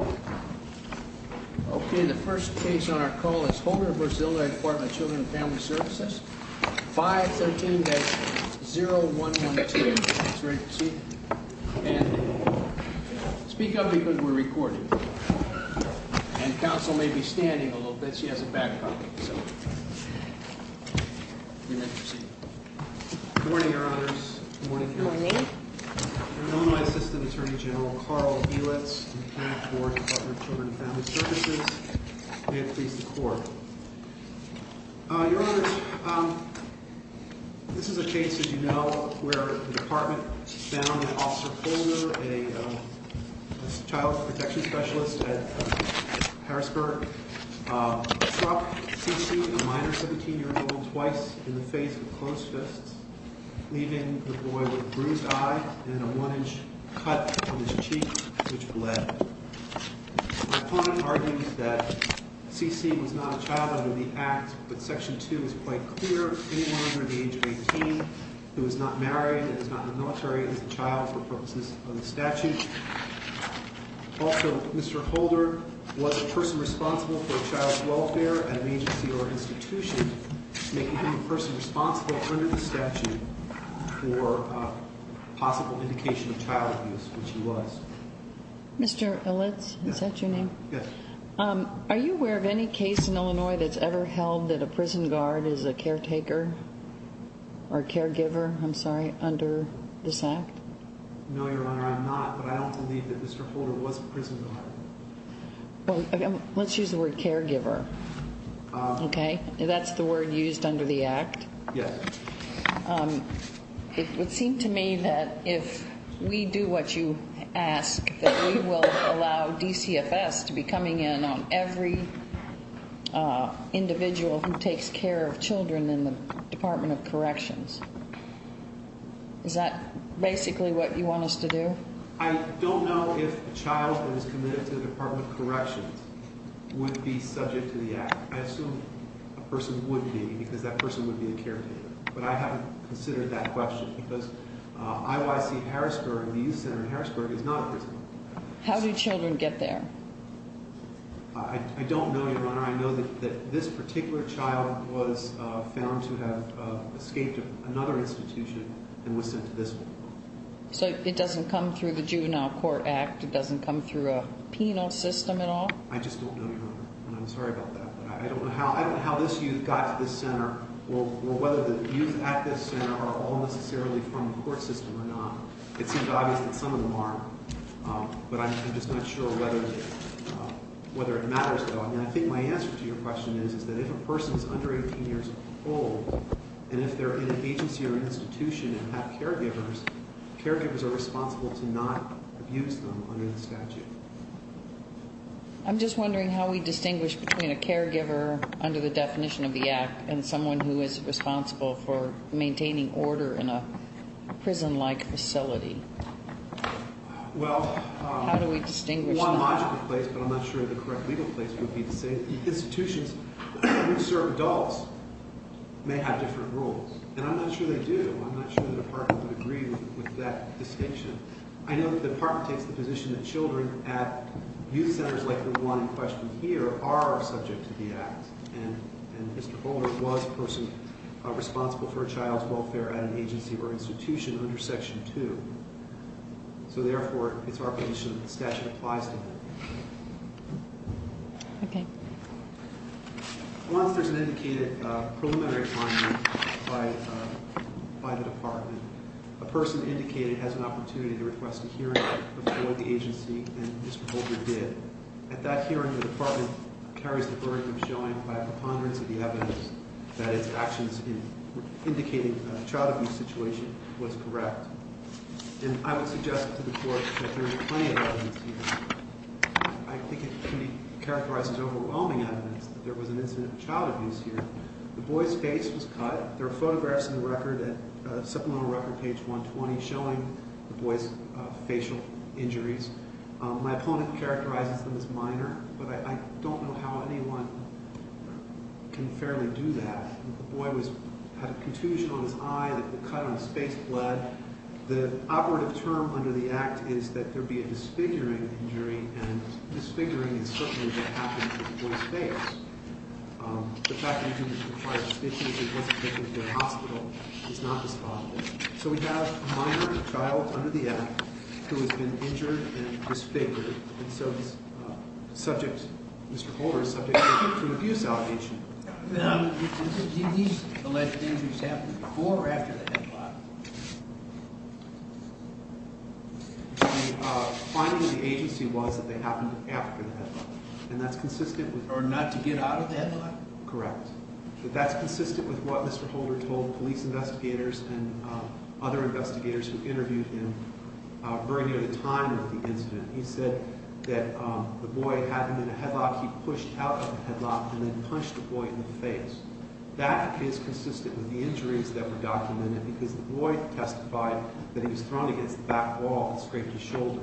Okay, the first case on our call is Homer v. Illinois Department of Children & Family Services, 513-0112. It's ready to proceed. And speak up because we're recording. And counsel may be standing a little bit. She has a back up, so. You may proceed. Good morning, Your Honors. Good morning, Your Honor. Morning. Illinois Assistant Attorney General Carl Helitz from the Connect Board, Department of Children & Family Services. May it please the Court. Your Honors, this is a case, as you know, where the Department found Officer Holder, a child protection specialist at Harrisburg. He struck C.C., a minor, 17-year-old, twice in the face with closed fists, leaving the boy with a bruised eye and a one-inch cut on his cheek, which bled. My opponent argues that C.C. was not a child under the Act, but Section 2 is quite clear. Anyone under the age of 18 who is not married and is not in the military is a child for purposes of the statute. Also, Mr. Holder was a person responsible for child welfare at an agency or institution, making him a person responsible under the statute for possible indication of child abuse, which he was. Mr. Helitz, is that your name? Yes. Are you aware of any case in Illinois that's ever held that a prison guard is a caretaker or caregiver, I'm sorry, under this Act? No, Your Honor, I'm not, but I don't believe that Mr. Holder was a prison guard. Well, let's use the word caregiver, okay? That's the word used under the Act? Yes. It would seem to me that if we do what you ask, that we will allow DCFS to be coming in on every individual who takes care of children in the Department of Corrections. Is that basically what you want us to do? I don't know if a child who is committed to the Department of Corrections would be subject to the Act. I assume a person would be because that person would be a caretaker, but I haven't considered that question because IYC Harrisburg, the youth center in Harrisburg, is not a prison. How do children get there? I don't know, Your Honor. I know that this particular child was found to have escaped another institution and was sent to this one. So it doesn't come through the Juvenile Court Act? It doesn't come through a penal system at all? I just don't know, Your Honor, and I'm sorry about that. I don't know how this youth got to this center or whether the youth at this center are all necessarily from the court system or not. It seems obvious that some of them are, but I'm just not sure whether it matters, though. And I think my answer to your question is that if a person is under 18 years old and if they're in an agency or institution and have caregivers, caregivers are responsible to not abuse them under the statute. I'm just wondering how we distinguish between a caregiver under the definition of the Act and someone who is responsible for maintaining order in a prison-like facility. How do we distinguish? Well, one logical place, but I'm not sure the correct legal place would be to say that institutions where we serve adults may have different rules, and I'm not sure they do. I'm not sure the Department would agree with that distinction. I know that the Department takes the position that children at youth centers like the one in question here are subject to the Act, and Mr. Holder was a person responsible for a child's welfare at an agency or institution under Section 2. So, therefore, it's our position that the statute applies to him. Okay. Once there's an indicated preliminary finding by the Department, a person indicated has an opportunity to request a hearing before the agency, and Mr. Holder did. At that hearing, the Department carries the burden of showing by a preponderance of the evidence that its actions in indicating a child abuse situation was correct. And I would suggest to the Court that there is plenty of evidence here. I think it can be characterized as overwhelming evidence that there was an incident of child abuse here. The boy's face was cut. There are photographs in the supplemental record, page 120, showing the boy's facial injuries. My opponent characterizes them as minor, but I don't know how anyone can fairly do that. The boy had a contusion on his eye that had been cut on a space blade. The operative term under the Act is that there be a disfiguring injury, and disfiguring is certainly what happened to the boy's face. The fact that he didn't require stitches or wasn't taken to a hospital is not responsible. So we have a minor child under the Act who has been injured and disfigured, and so Mr. Holder is subject to abuse allegation. Did these alleged injuries happen before or after the headlock? The finding of the agency was that they happened after the headlock, and that's consistent with- Or not to get out of the headlock? Correct. But that's consistent with what Mr. Holder told police investigators and other investigators who interviewed him very near the time of the incident. He said that the boy had him in a headlock, he pushed out of the headlock, and then punched the boy in the face. That is consistent with the injuries that were documented because the boy testified that he was thrown against the back wall and scraped his shoulder.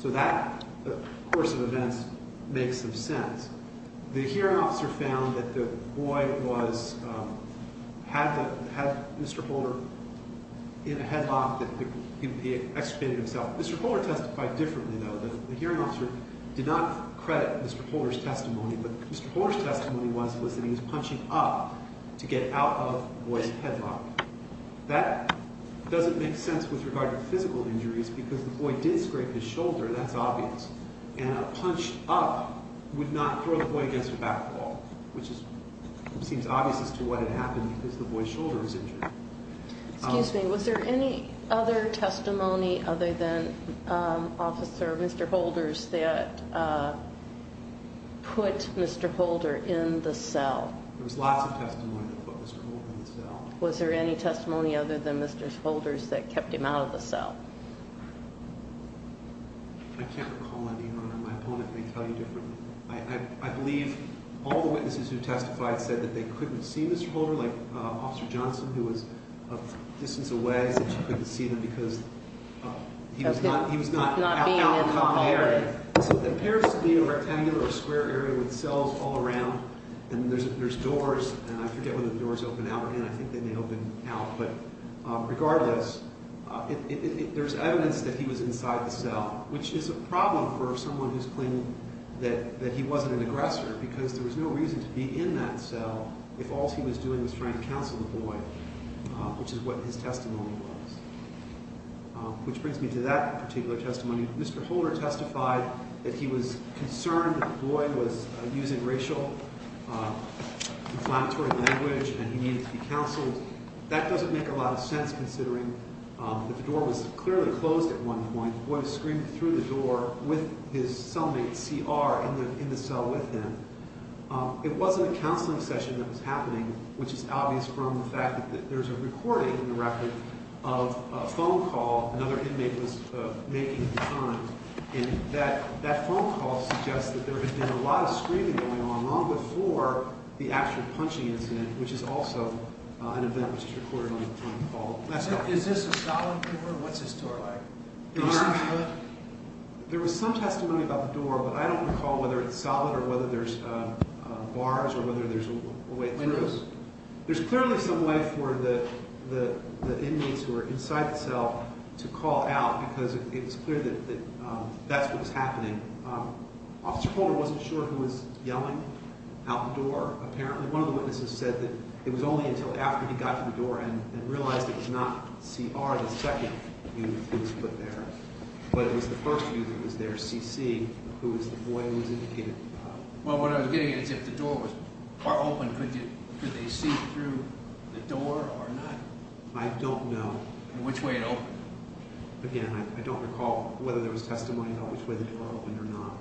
So that course of events makes some sense. The hearing officer found that the boy was- had Mr. Holder in a headlock that he excreted himself. Mr. Holder testified differently, though. The hearing officer did not credit Mr. Holder's testimony, but Mr. Holder's testimony was that he was punching up to get out of the boy's headlock. That doesn't make sense with regard to physical injuries because the boy did scrape his shoulder, that's obvious. And a punch up would not throw the boy against a back wall, which seems obvious as to what had happened because the boy's shoulder was injured. Excuse me, was there any other testimony other than Officer- Mr. Holder's that put Mr. Holder in the cell? There was lots of testimony that put Mr. Holder in the cell. Was there any testimony other than Mr. Holder's that kept him out of the cell? I can't recall any, Your Honor. My opponent may tell you differently. I believe all the witnesses who testified said that they couldn't see Mr. Holder, like Officer Johnson, who was a distance away, said she couldn't see him because he was not out in the common area. So there appears to be a rectangular or square area with cells all around and there's doors, and I forget whether the doors open out or in. I think they may open out, but regardless, there's evidence that he was inside the cell, which is a problem for someone who's claiming that he wasn't an aggressor because there was no reason to be in that cell if all he was doing was trying to counsel the boy, which is what his testimony was. Which brings me to that particular testimony. Mr. Holder testified that he was concerned that the boy was using racial inflammatory language and he needed to be counseled. That doesn't make a lot of sense considering that the door was clearly closed at one point. The boy screamed through the door with his cellmate, C.R., in the cell with him. It wasn't a counseling session that was happening, which is obvious from the fact that there's a recording in the record of a phone call another inmate was making at the time. And that phone call suggests that there had been a lot of screaming going on long before the actual punching incident, which is also an event which was recorded on the phone call. Is this a solid door? What's this door like? There was some testimony about the door, but I don't recall whether it's solid or whether there's bars or whether there's a way through. There's clearly some way for the inmates who are inside the cell to call out because it's clear that that's what was happening. Officer Holder wasn't sure who was yelling out the door, apparently. One of the witnesses said that it was only until after he got to the door and realized it was not C.R., the second youth who was put there, but it was the first youth that was there, C.C., who was the boy who was indicated. Well, what I'm getting at is if the door was open, could they see through the door or not? I don't know. Which way it opened? Again, I don't recall whether there was testimony about which way the door opened or not.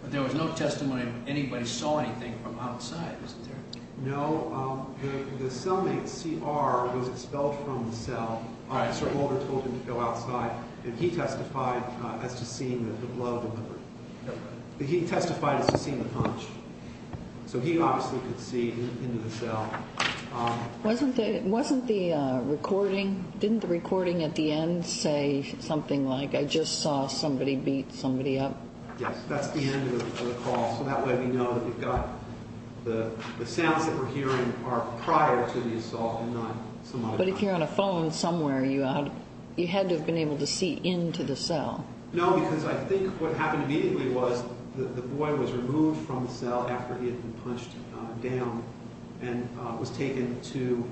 But there was no testimony that anybody saw anything from outside, isn't there? No. The cellmate, C.R., was expelled from the cell. Officer Holder told him to go outside, and he testified as to seeing the blood in the room. He testified as to seeing the punch. So he obviously could see into the cell. Wasn't the recording at the end say something like, I just saw somebody beat somebody up? Yes. That's the end of the call. So that way we know that the sounds that we're hearing are prior to the assault and not some other time. But if you're on a phone somewhere, you had to have been able to see into the cell. No, because I think what happened immediately was the boy was removed from the cell after he had been punched down and was taken to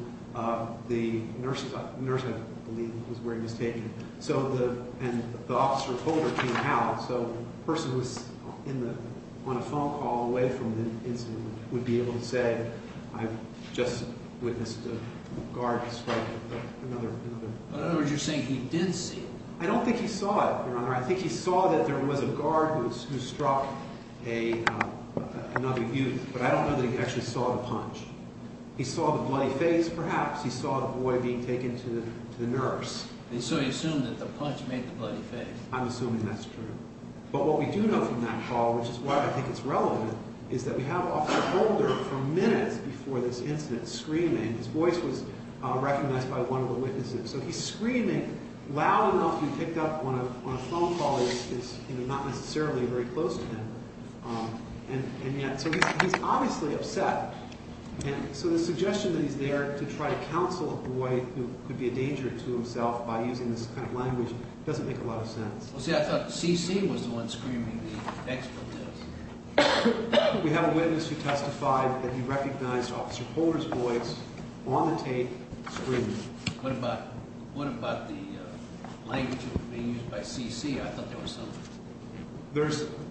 the nurse's office. The nurse, I believe, was where he was taken. And the officer Holder came out, so the person who was on a phone call away from the incident would be able to say, I've just witnessed a guard strike another person. In other words, you're saying he did see. I don't think he saw it, Your Honor. I think he saw that there was a guard who struck another youth. But I don't know that he actually saw the punch. He saw the bloody face, perhaps. He saw the boy being taken to the nurse. So you assume that the punch made the bloody face. I'm assuming that's true. But what we do know from that call, which is why I think it's relevant, is that we have Officer Holder for minutes before this incident screaming. His voice was recognized by one of the witnesses. So he's screaming loud enough. He picked up on a phone call. It's not necessarily very close to him. And yet, so he's obviously upset. So the suggestion that he's there to try to counsel a boy who could be a danger to himself by using this kind of language doesn't make a lot of sense. Well, see, I thought CC was the one screaming. The expert was. We have a witness who testified that he recognized Officer Holder's voice on the tape screaming. What about the language that was being used by CC? I thought there was some.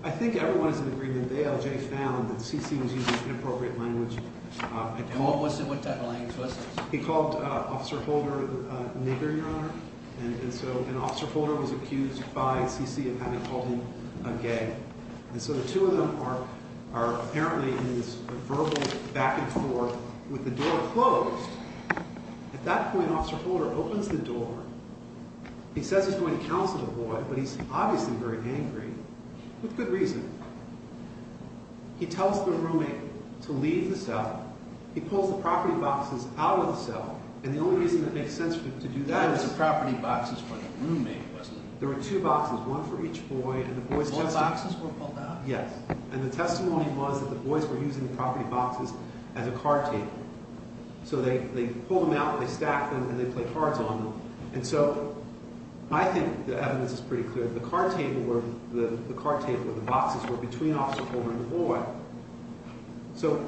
I think everyone is in agreement. ALJ found that CC was using inappropriate language. What type of language was this? He called Officer Holder a nigger, Your Honor. And so Officer Holder was accused by CC of having called him a gay. And so the two of them are apparently in this verbal back and forth with the door closed. At that point, Officer Holder opens the door. He says he's going to counsel the boy, but he's obviously very angry, with good reason. He tells the roommate to leave the cell. He pulls the property boxes out of the cell. And the only reason that makes sense to do that is— That was the property boxes for the roommate, wasn't it? There were two boxes, one for each boy. And the boy's testimony— The boy's boxes were pulled out? Yes. And the testimony was that the boys were using the property boxes as a card table. So they pull them out, they stack them, and they play cards on them. And so I think the evidence is pretty clear. The card table or the boxes were between Officer Holder and the boy. So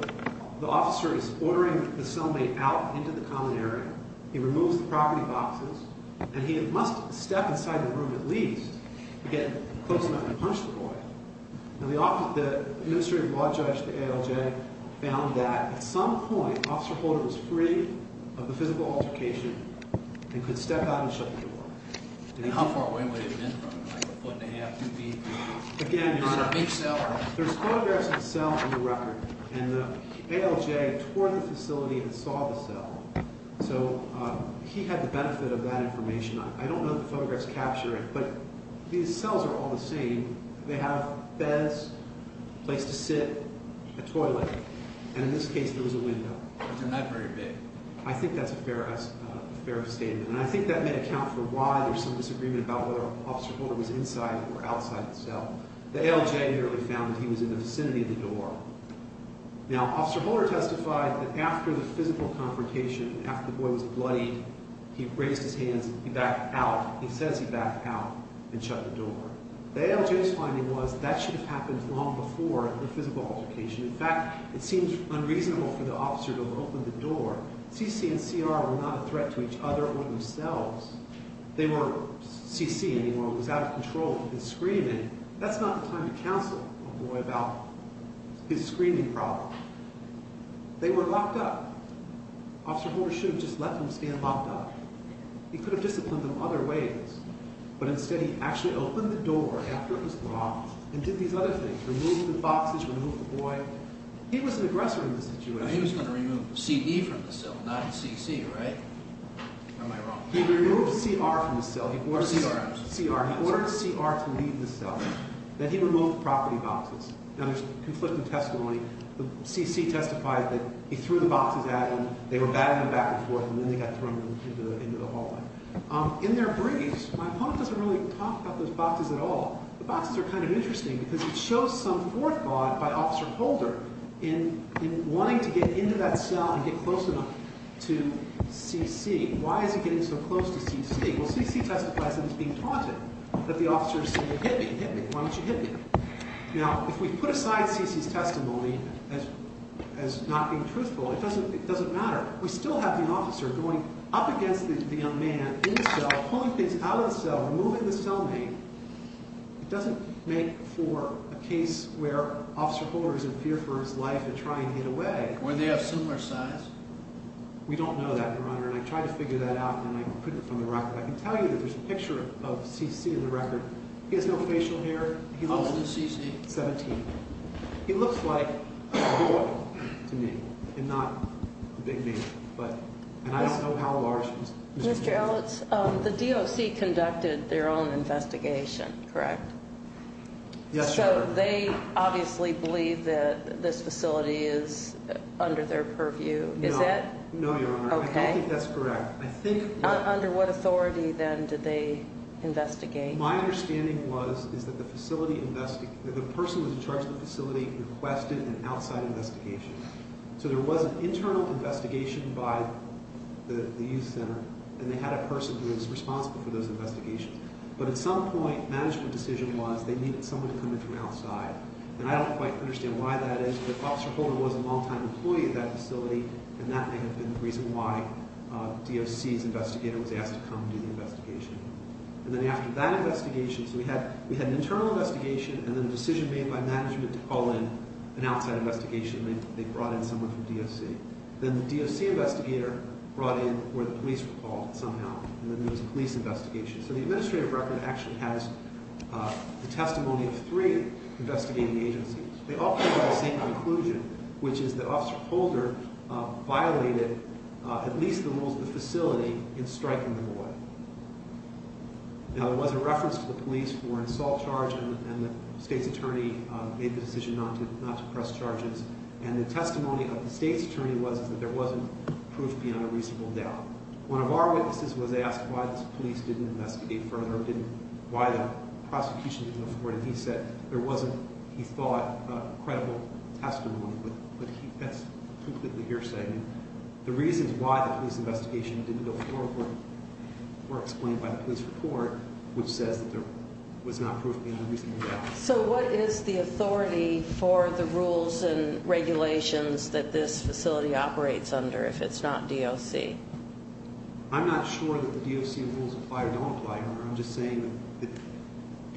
the officer is ordering the cellmate out into the common area. He removes the property boxes. And he must step inside the room at least to get close enough to punch the boy. The administrative law judge, the ALJ, found that at some point Officer Holder was free of the physical altercation and could step out and shut the door. And how far away would he have been from him? Like a foot and a half, two feet? Again, there's photographs of the cell on the record. And the ALJ toured the facility and saw the cell. So he had the benefit of that information. I don't know if the photographs capture it, but these cells are all the same. They have beds, a place to sit, a toilet, and in this case there was a window. It's not very big. I think that's a fair statement. And I think that may account for why there's some disagreement about whether Officer Holder was inside or outside the cell. The ALJ apparently found that he was in the vicinity of the door. Now, Officer Holder testified that after the physical confrontation, after the boy was bloodied, he raised his hands and he backed out. He says he backed out and shut the door. The ALJ's finding was that should have happened long before the physical altercation. In fact, it seems unreasonable for the officer to have opened the door. CC and CR were not a threat to each other or themselves. They were CC anymore and was out of control of his screaming. That's not the time to counsel a boy about his screaming problem. They were locked up. Officer Holder should have just let them stand locked up. He could have disciplined them other ways. But instead he actually opened the door after it was locked and did these other things, removing the boxes, removing the boy. He was an aggressor in this situation. He was going to remove CD from the cell, not CC, right? Am I wrong? He removed CR from the cell. Or CR. CR. He ordered CR to leave the cell. Then he removed the property boxes. Now, there's conflicting testimony. CC testified that he threw the boxes at them. They were batting them back and forth, and then they got thrown into the hallway. In their briefs, my opponent doesn't really talk about those boxes at all. The boxes are kind of interesting because it shows some forethought by Officer Holder in wanting to get into that cell and get close enough to CC. Why is he getting so close to CC? Well, CC testifies that he's being taunted, that the officer is saying, hit me, hit me, why don't you hit me? Now, if we put aside CC's testimony as not being truthful, it doesn't matter. We still have the officer going up against the young man in the cell, pulling things out of the cell, removing the cellmate. It doesn't make for a case where Officer Holder is in fear for his life and trying to get away. Were they of similar size? We don't know that, Your Honor, and I tried to figure that out, and I put it from the record. I can tell you that there's a picture of CC in the record. He has no facial hair. How old is CC? 17. He looks like a boy to me and not a big deal, and I don't know how large he is. Mr. Ellis, the DOC conducted their own investigation, correct? Yes, Your Honor. So they obviously believe that this facility is under their purview, is that? No, Your Honor. Okay. I don't think that's correct. Under what authority, then, did they investigate? My understanding was that the person who was in charge of the facility requested an outside investigation. So there was an internal investigation by the youth center, and they had a person who was responsible for those investigations. But at some point, management decision was they needed someone to come in from outside. And I don't quite understand why that is, but Officer Holder was a longtime employee of that facility, and that may have been the reason why DOC's investigator was asked to come and do the investigation. And then after that investigation, so we had an internal investigation, and then a decision made by management to call in an outside investigation. They brought in someone from DOC. Then the DOC investigator brought in where the police were called somehow, and then there was a police investigation. So the administrative record actually has the testimony of three investigating agencies. They all came to the same conclusion, which is that Officer Holder violated at least the rules of the facility in striking the boy. Now, there was a reference to the police for an assault charge, and the state's attorney made the decision not to press charges. And the testimony of the state's attorney was that there wasn't proof beyond a reasonable doubt. One of our witnesses was asked why the police didn't investigate further, why the prosecution didn't afford it. He said there wasn't, he thought, credible testimony, but that's completely hearsay. And the reasons why the police investigation didn't go forward were explained by the police report, which says that there was not proof beyond a reasonable doubt. So what is the authority for the rules and regulations that this facility operates under if it's not DOC? I'm not sure that the DOC rules apply or don't apply here. I'm just saying that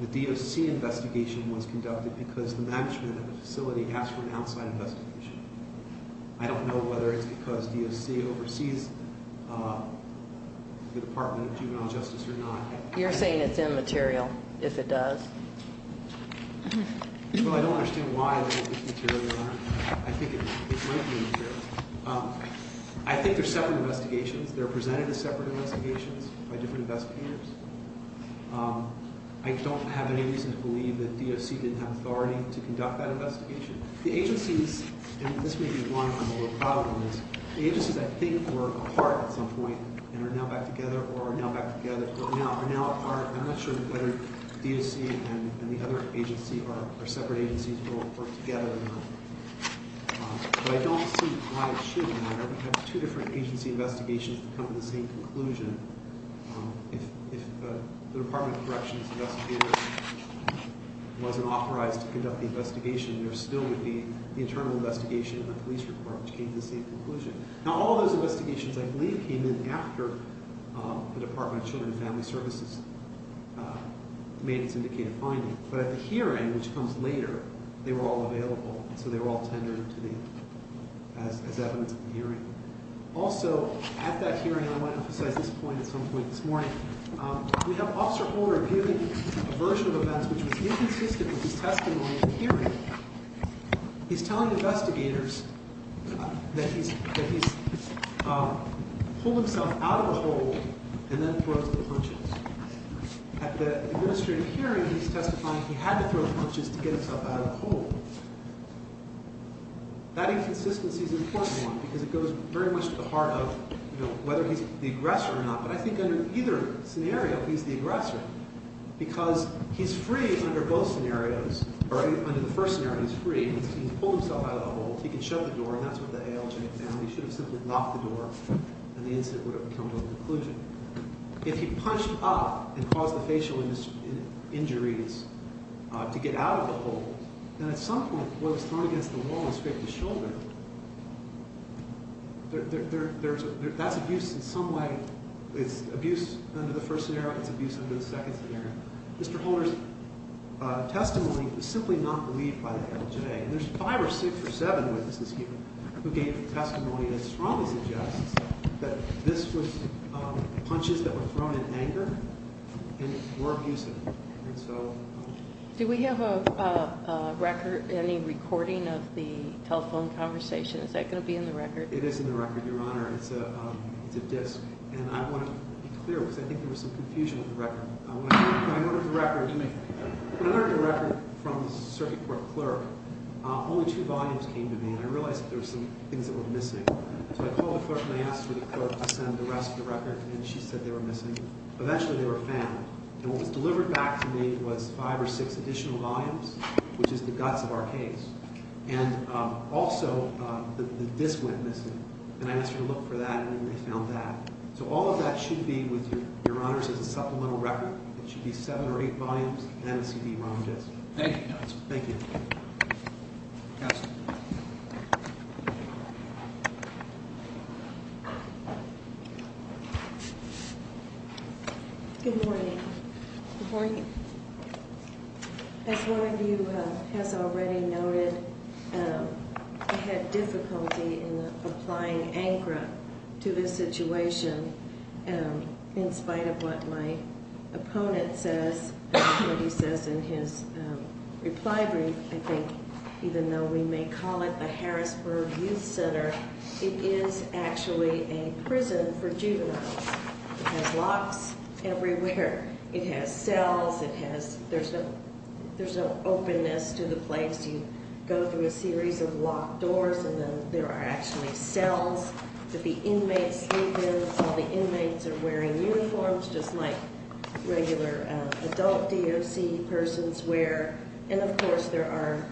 the DOC investigation was conducted because the management of the facility asked for an outside investigation. I don't know whether it's because DOC oversees the Department of Juvenile Justice or not. You're saying it's immaterial if it does? Well, I don't understand why it's immaterial. I think it might be immaterial. I think they're separate investigations. They're presented as separate investigations by different investigators. I don't have any reason to believe that DOC didn't have authority to conduct that investigation. The agencies, and this may be one of the problems, the agencies I think were apart at some point and are now back together or are now back together or are now apart. I'm not sure whether DOC and the other agency are separate agencies or together or not. But I don't see why it should matter. We have two different agency investigations that come to the same conclusion. If the Department of Corrections investigator wasn't authorized to conduct the investigation, there still would be the internal investigation and the police report, which came to the same conclusion. Now, all those investigations, I believe, came in after the Department of Children and Family Services made its indicative finding. But at the hearing, which comes later, they were all available, so they were all tendered as evidence at the hearing. Also, at that hearing, and I want to emphasize this point at some point this morning, we have Officer Holder giving a version of events which was inconsistent with his testimony at the hearing. He's telling investigators that he's pulled himself out of a hole and then throws the punches. At the administrative hearing, he's testifying he had to throw the punches to get himself out of the hole. That inconsistency is an important one because it goes very much to the heart of whether he's the aggressor or not. But I think under either scenario, he's the aggressor because he's free under both scenarios. Under the first scenario, he's free. He's pulled himself out of the hole. He can shut the door, and that's what the ALJ demanded. He should have simply locked the door, and the incident would have come to a conclusion. If he punched up and caused the facial injuries to get out of the hole, then at some point, what was thrown against the wall and scraped his shoulder, that's abuse in some way. It's abuse under the first scenario. It's abuse under the second scenario. Mr. Holder's testimony was simply not believed by the ALJ. There's five or six or seven witnesses here who gave testimony that strongly suggests that this was punches that were thrown in anger and were abusive. And so— Do we have a record, any recording of the telephone conversation? Is that going to be in the record? It is in the record, Your Honor. It's a disk, and I want to be clear because I think there was some confusion with the record. When I ordered the record from the circuit court clerk, only two volumes came to me, and I realized that there were some things that were missing. So I called the clerk, and I asked her to send the rest of the record, and she said they were missing. Eventually, they were found. And what was delivered back to me was five or six additional volumes, which is the guts of our case. And also, the disk went missing, and I asked her to look for that, and then they found that. So all of that should be with your honors as a supplemental record. It should be seven or eight volumes and a CD-ROM disk. Thank you, counsel. Thank you. Counsel. Good morning. Good morning. As one of you has already noted, I had difficulty in applying ANCRA to this situation in spite of what my opponent says, what he says in his reply brief. I think even though we may call it the Harrisburg Youth Center, it is actually a prison for juveniles. It has locks everywhere. It has cells. There's an openness to the place. You go through a series of locked doors, and then there are actually cells that the inmates sleep in. All the inmates are wearing uniforms, just like regular adult DOC persons wear. And, of course, there are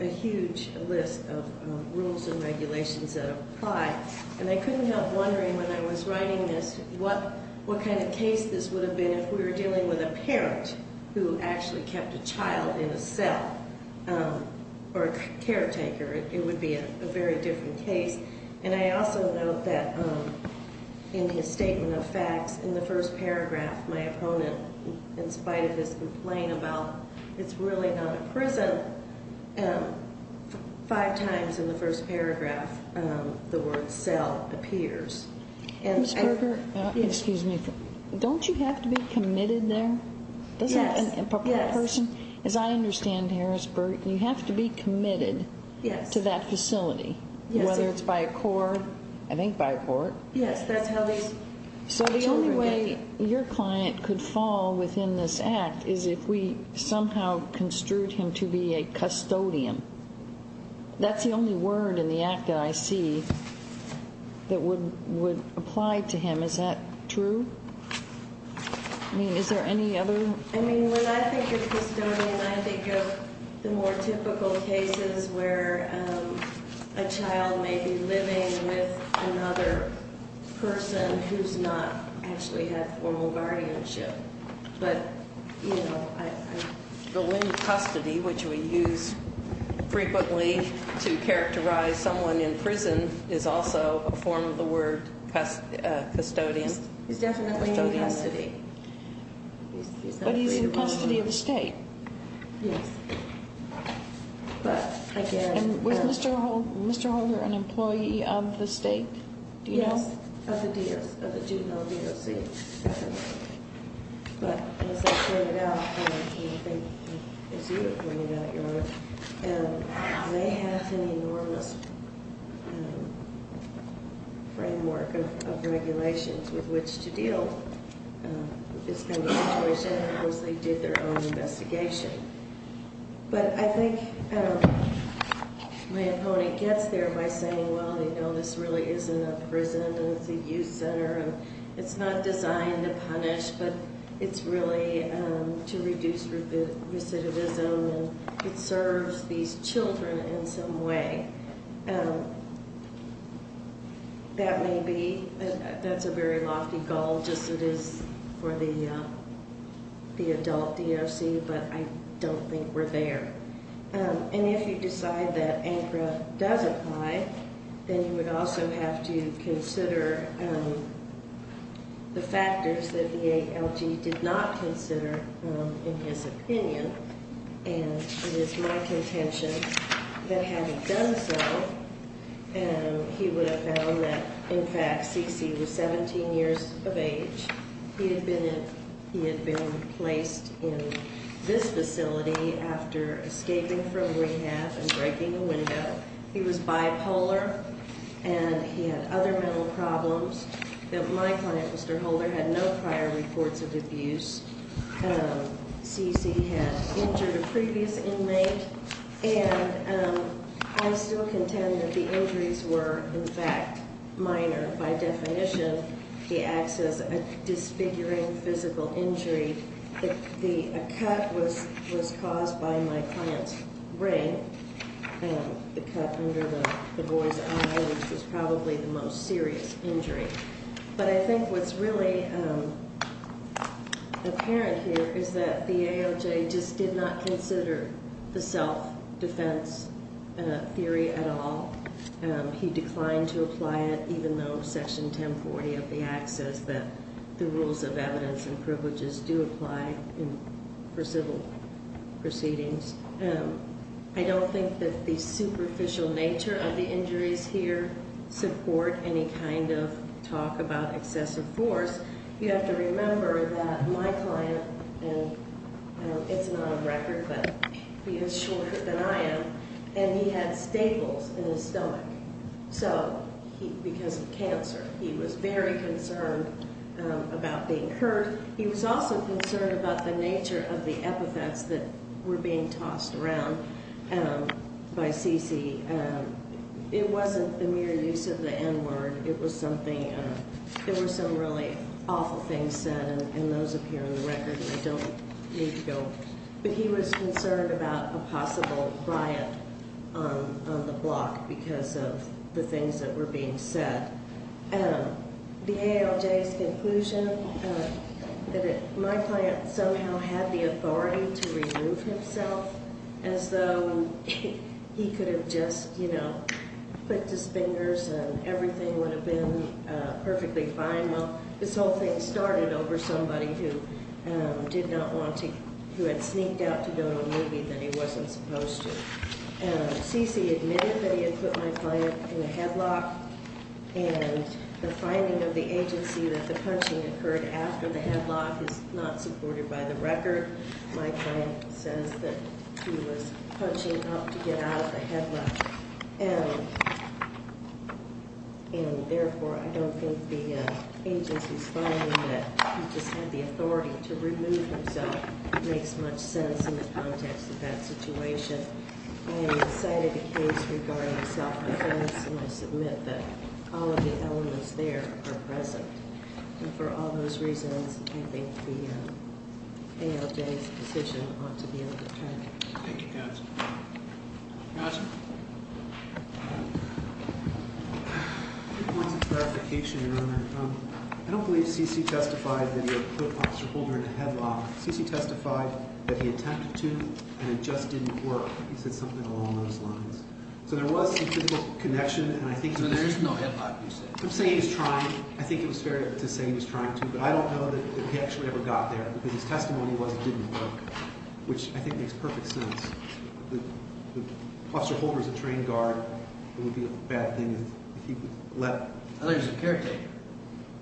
a huge list of rules and regulations that apply. And I couldn't help wondering when I was writing this what kind of case this would have been if we were dealing with a parent who actually kept a child in a cell or a caretaker. It would be a very different case. And I also note that in his statement of facts, in the first paragraph, my opponent, in spite of his complaint about it's really not a prison, five times in the first paragraph the word cell appears. Ms. Berger, don't you have to be committed there? Yes. As I understand, Harrisburg, you have to be committed to that facility. Yes. Whether it's by a court. I think by a court. Yes. That's how these children are. So the only way your client could fall within this act is if we somehow construed him to be a custodian. That's the only word in the act that I see that would apply to him. Is that true? I mean, is there any other? I mean, when I think of custodian, I think of the more typical cases where a child may be living with another person who's not actually had formal guardianship. But, you know, I don't know. The word custody, which we use frequently to characterize someone in prison, is also a form of the word custodian. He's definitely in custody. But he's in custody of the state. Yes. But, again. And was Mr. Holger an employee of the state? Do you know? Yes, of the juvenile DOC. But as I pointed out, and I think as you have pointed out, Your Honor, they have an enormous framework of regulations with which to deal. This kind of situation, of course, they did their own investigation. But I think my opponent gets there by saying, well, you know, this really isn't a prison. It's a youth center. It's not designed to punish, but it's really to reduce recidivism and it serves these children in some way. That may be, that's a very lofty goal just as it is for the adult DOC, but I don't think we're there. And if you decide that ANCRA does apply, then you would also have to consider the factors that the ALG did not consider in his opinion. And it is my contention that had he done so, he would have found that, in fact, C.C. was 17 years of age. He had been placed in this facility after escaping from rehab and breaking a window. He was bipolar and he had other mental problems that my client, Mr. Holger, had no prior reports of abuse. C.C. had injured a previous inmate, and I still contend that the injuries were, in fact, minor. By definition, he acts as a disfiguring physical injury. A cut was caused by my client's ring. The cut under the boy's eye was probably the most serious injury. But I think what's really apparent here is that the ALJ just did not consider the self-defense theory at all. He declined to apply it, even though Section 1040 of the Act says that the rules of evidence and privileges do apply for civil proceedings. I don't think that the superficial nature of the injuries here support any kind of talk about excessive force. You have to remember that my client, and it's not on record, but he is shorter than I am, and he had staples in his stomach because of cancer. He was very concerned about being hurt. He was also concerned about the nature of the epithets that were being tossed around by C.C. It wasn't the mere use of the N-word. It was something – there were some really awful things said, and those appear in the record, and I don't need to go. But he was concerned about a possible riot on the block because of the things that were being said. The ALJ's conclusion that my client somehow had the authority to remove himself as though he could have just, you know, clicked his fingers and everything would have been perfectly fine. Well, this whole thing started over somebody who did not want to – who had sneaked out to go to a movie that he wasn't supposed to. C.C. admitted that he had put my client in a headlock, and the finding of the agency that the punching occurred after the headlock is not supported by the record. My client says that he was punching up to get out of the headlock. And therefore, I don't think the agency's finding that he just had the authority to remove himself makes much sense in the context of that situation. I have cited a case regarding self-defense, and I submit that all of the elements there are present. And for all those reasons, I think the ALJ's decision ought to be a deterrent. Thank you, counsel. Counsel? I think it wants a clarification, Your Honor. I don't believe C.C. testified that he had put Officer Holder in a headlock. C.C. testified that he attempted to, and it just didn't work. He said something along those lines. So there was some physical connection, and I think… So there is no hip-hop, you said? I'm saying he's trying. I think it was fair to say he was trying to, but I don't know that he actually ever got there. Because his testimony was it didn't work, which I think makes perfect sense. Officer Holder is a trained guard. It would be a bad thing if he let… I thought he was a caretaker.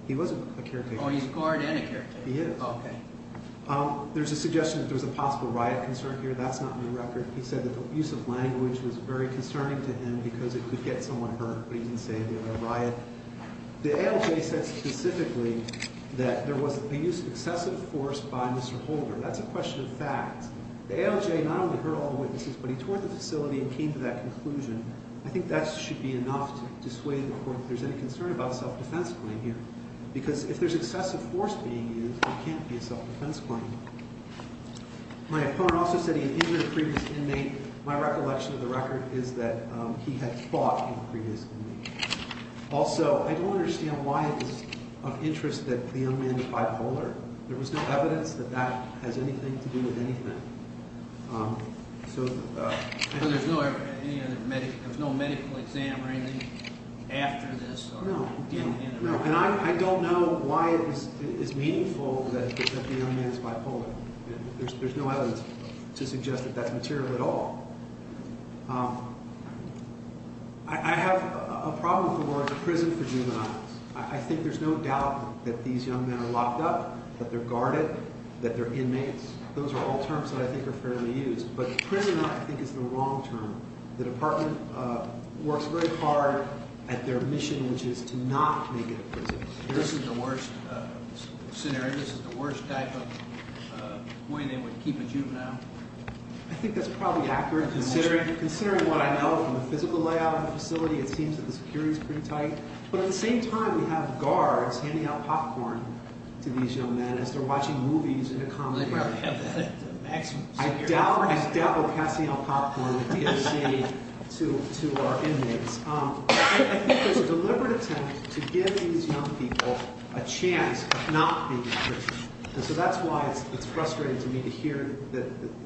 He was a caretaker. Oh, he's a guard and a caretaker. He is. Okay. There's a suggestion that there was a possible riot concern here. That's not in the record. He said that the use of language was very concerning to him because it could get someone hurt. But he didn't say if there was a riot. The ALJ said specifically that there was a use of excessive force by Mr. Holder. That's a question of facts. The ALJ not only heard all the witnesses, but he toured the facility and came to that conclusion. I think that should be enough to dissuade the Court that there's any concern about a self-defense claim here. Because if there's excessive force being used, it can't be a self-defense claim. My opponent also said he had injured a previous inmate. My recollection of the record is that he had fought a previous inmate. Also, I don't understand why it is of interest that the young man is bipolar. There was no evidence that that has anything to do with anything. So there's no medical exam or anything after this? No. And I don't know why it is meaningful that the young man is bipolar. There's no evidence to suggest that that's material at all. I have a problem with the word prison for juveniles. I think there's no doubt that these young men are locked up, that they're guarded, that they're inmates. Those are all terms that I think are fairly used. But prisoner, I think, is the wrong term. The Department works very hard at their mission, which is to not make it a prison. This is the worst scenario? This is the worst type of way they would keep a juvenile? I think that's probably accurate. Considering what I know from the physical layout of the facility, it seems that the security is pretty tight. But at the same time, we have guards handing out popcorn to these young men as they're watching movies in a common area. I doubt he's dabbled in passing out popcorn to our inmates. I think there's a deliberate attempt to give these young people a chance of not being in prison. And so that's why it's frustrating to me to hear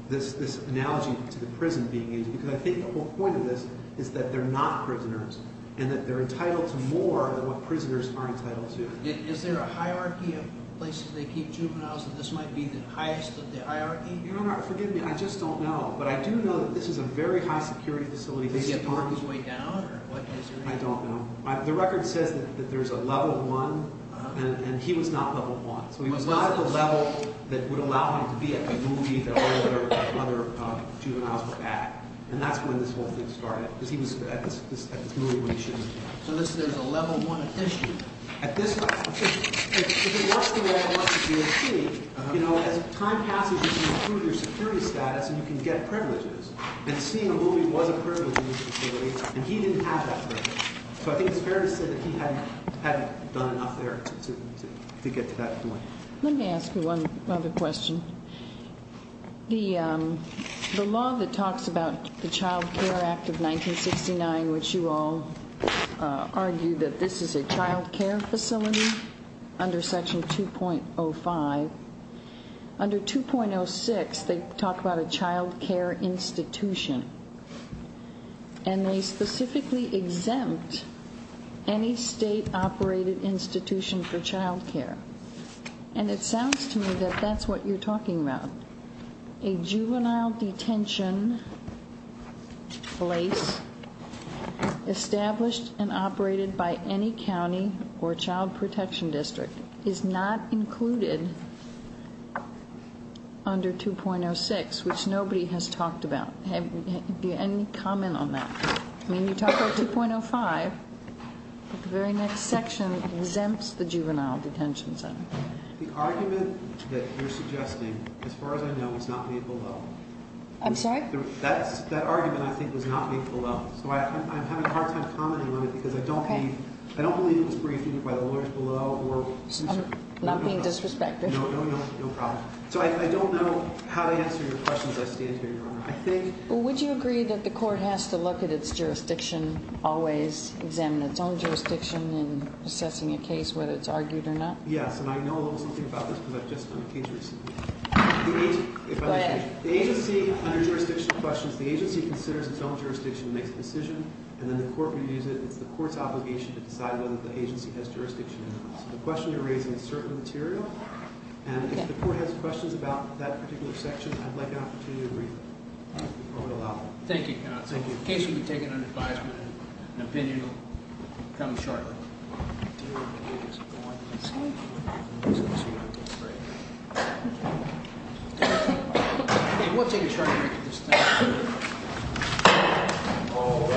this analogy to the prison being used. Because I think the whole point of this is that they're not prisoners and that they're entitled to more than what prisoners are entitled to. Is there a hierarchy of places they keep juveniles? That this might be the highest of the hierarchy? Your Honor, forgive me, I just don't know. But I do know that this is a very high security facility. Is he on his way down? I don't know. The record says that there's a level one. And he was not level one. So he was not at the level that would allow him to be at the movie that all the other juveniles were at. And that's when this whole thing started. Because he was at this movie when he should have been. So there's a level one addition? At this level. If it works the way I want it to be at sea, you know, as time passes you can improve your security status and you can get privileges. And seeing a movie was a privilege in this facility. And he didn't have that privilege. So I think it's fair to say that he hadn't done enough there to get to that point. Let me ask you one other question. The law that talks about the Child Care Act of 1969, which you all argue that this is a child care facility under Section 2.05, under 2.06 they talk about a child care institution. And they specifically exempt any state-operated institution for child care. And it sounds to me that that's what you're talking about. A juvenile detention place established and operated by any county or child protection district is not included under 2.06, which nobody has talked about. Do you have any comment on that? I mean, you talk about 2.05, but the very next section exempts the juvenile detention center. The argument that you're suggesting, as far as I know, was not made below. I'm sorry? That argument, I think, was not made below. So I'm having a hard time commenting on it because I don't believe it was briefed either by the lawyers below or— I'm not being disrespected. No, no, no problem. Would you agree that the court has to look at its jurisdiction, always examine its own jurisdiction in assessing a case, whether it's argued or not? Yes, and I know a little something about this because I've just done a case recently. Go ahead. The agency, under jurisdictional questions, the agency considers its own jurisdiction and makes a decision, and then the court reviews it. It's the court's obligation to decide whether the agency has jurisdiction or not. So the question you're raising is certain material, and if the court has questions about that particular section, I'd like an opportunity to read them. I would allow that. Thank you. Thank you. The case will be taken under advisement, and an opinion will come shortly. We'll take a short break at this time.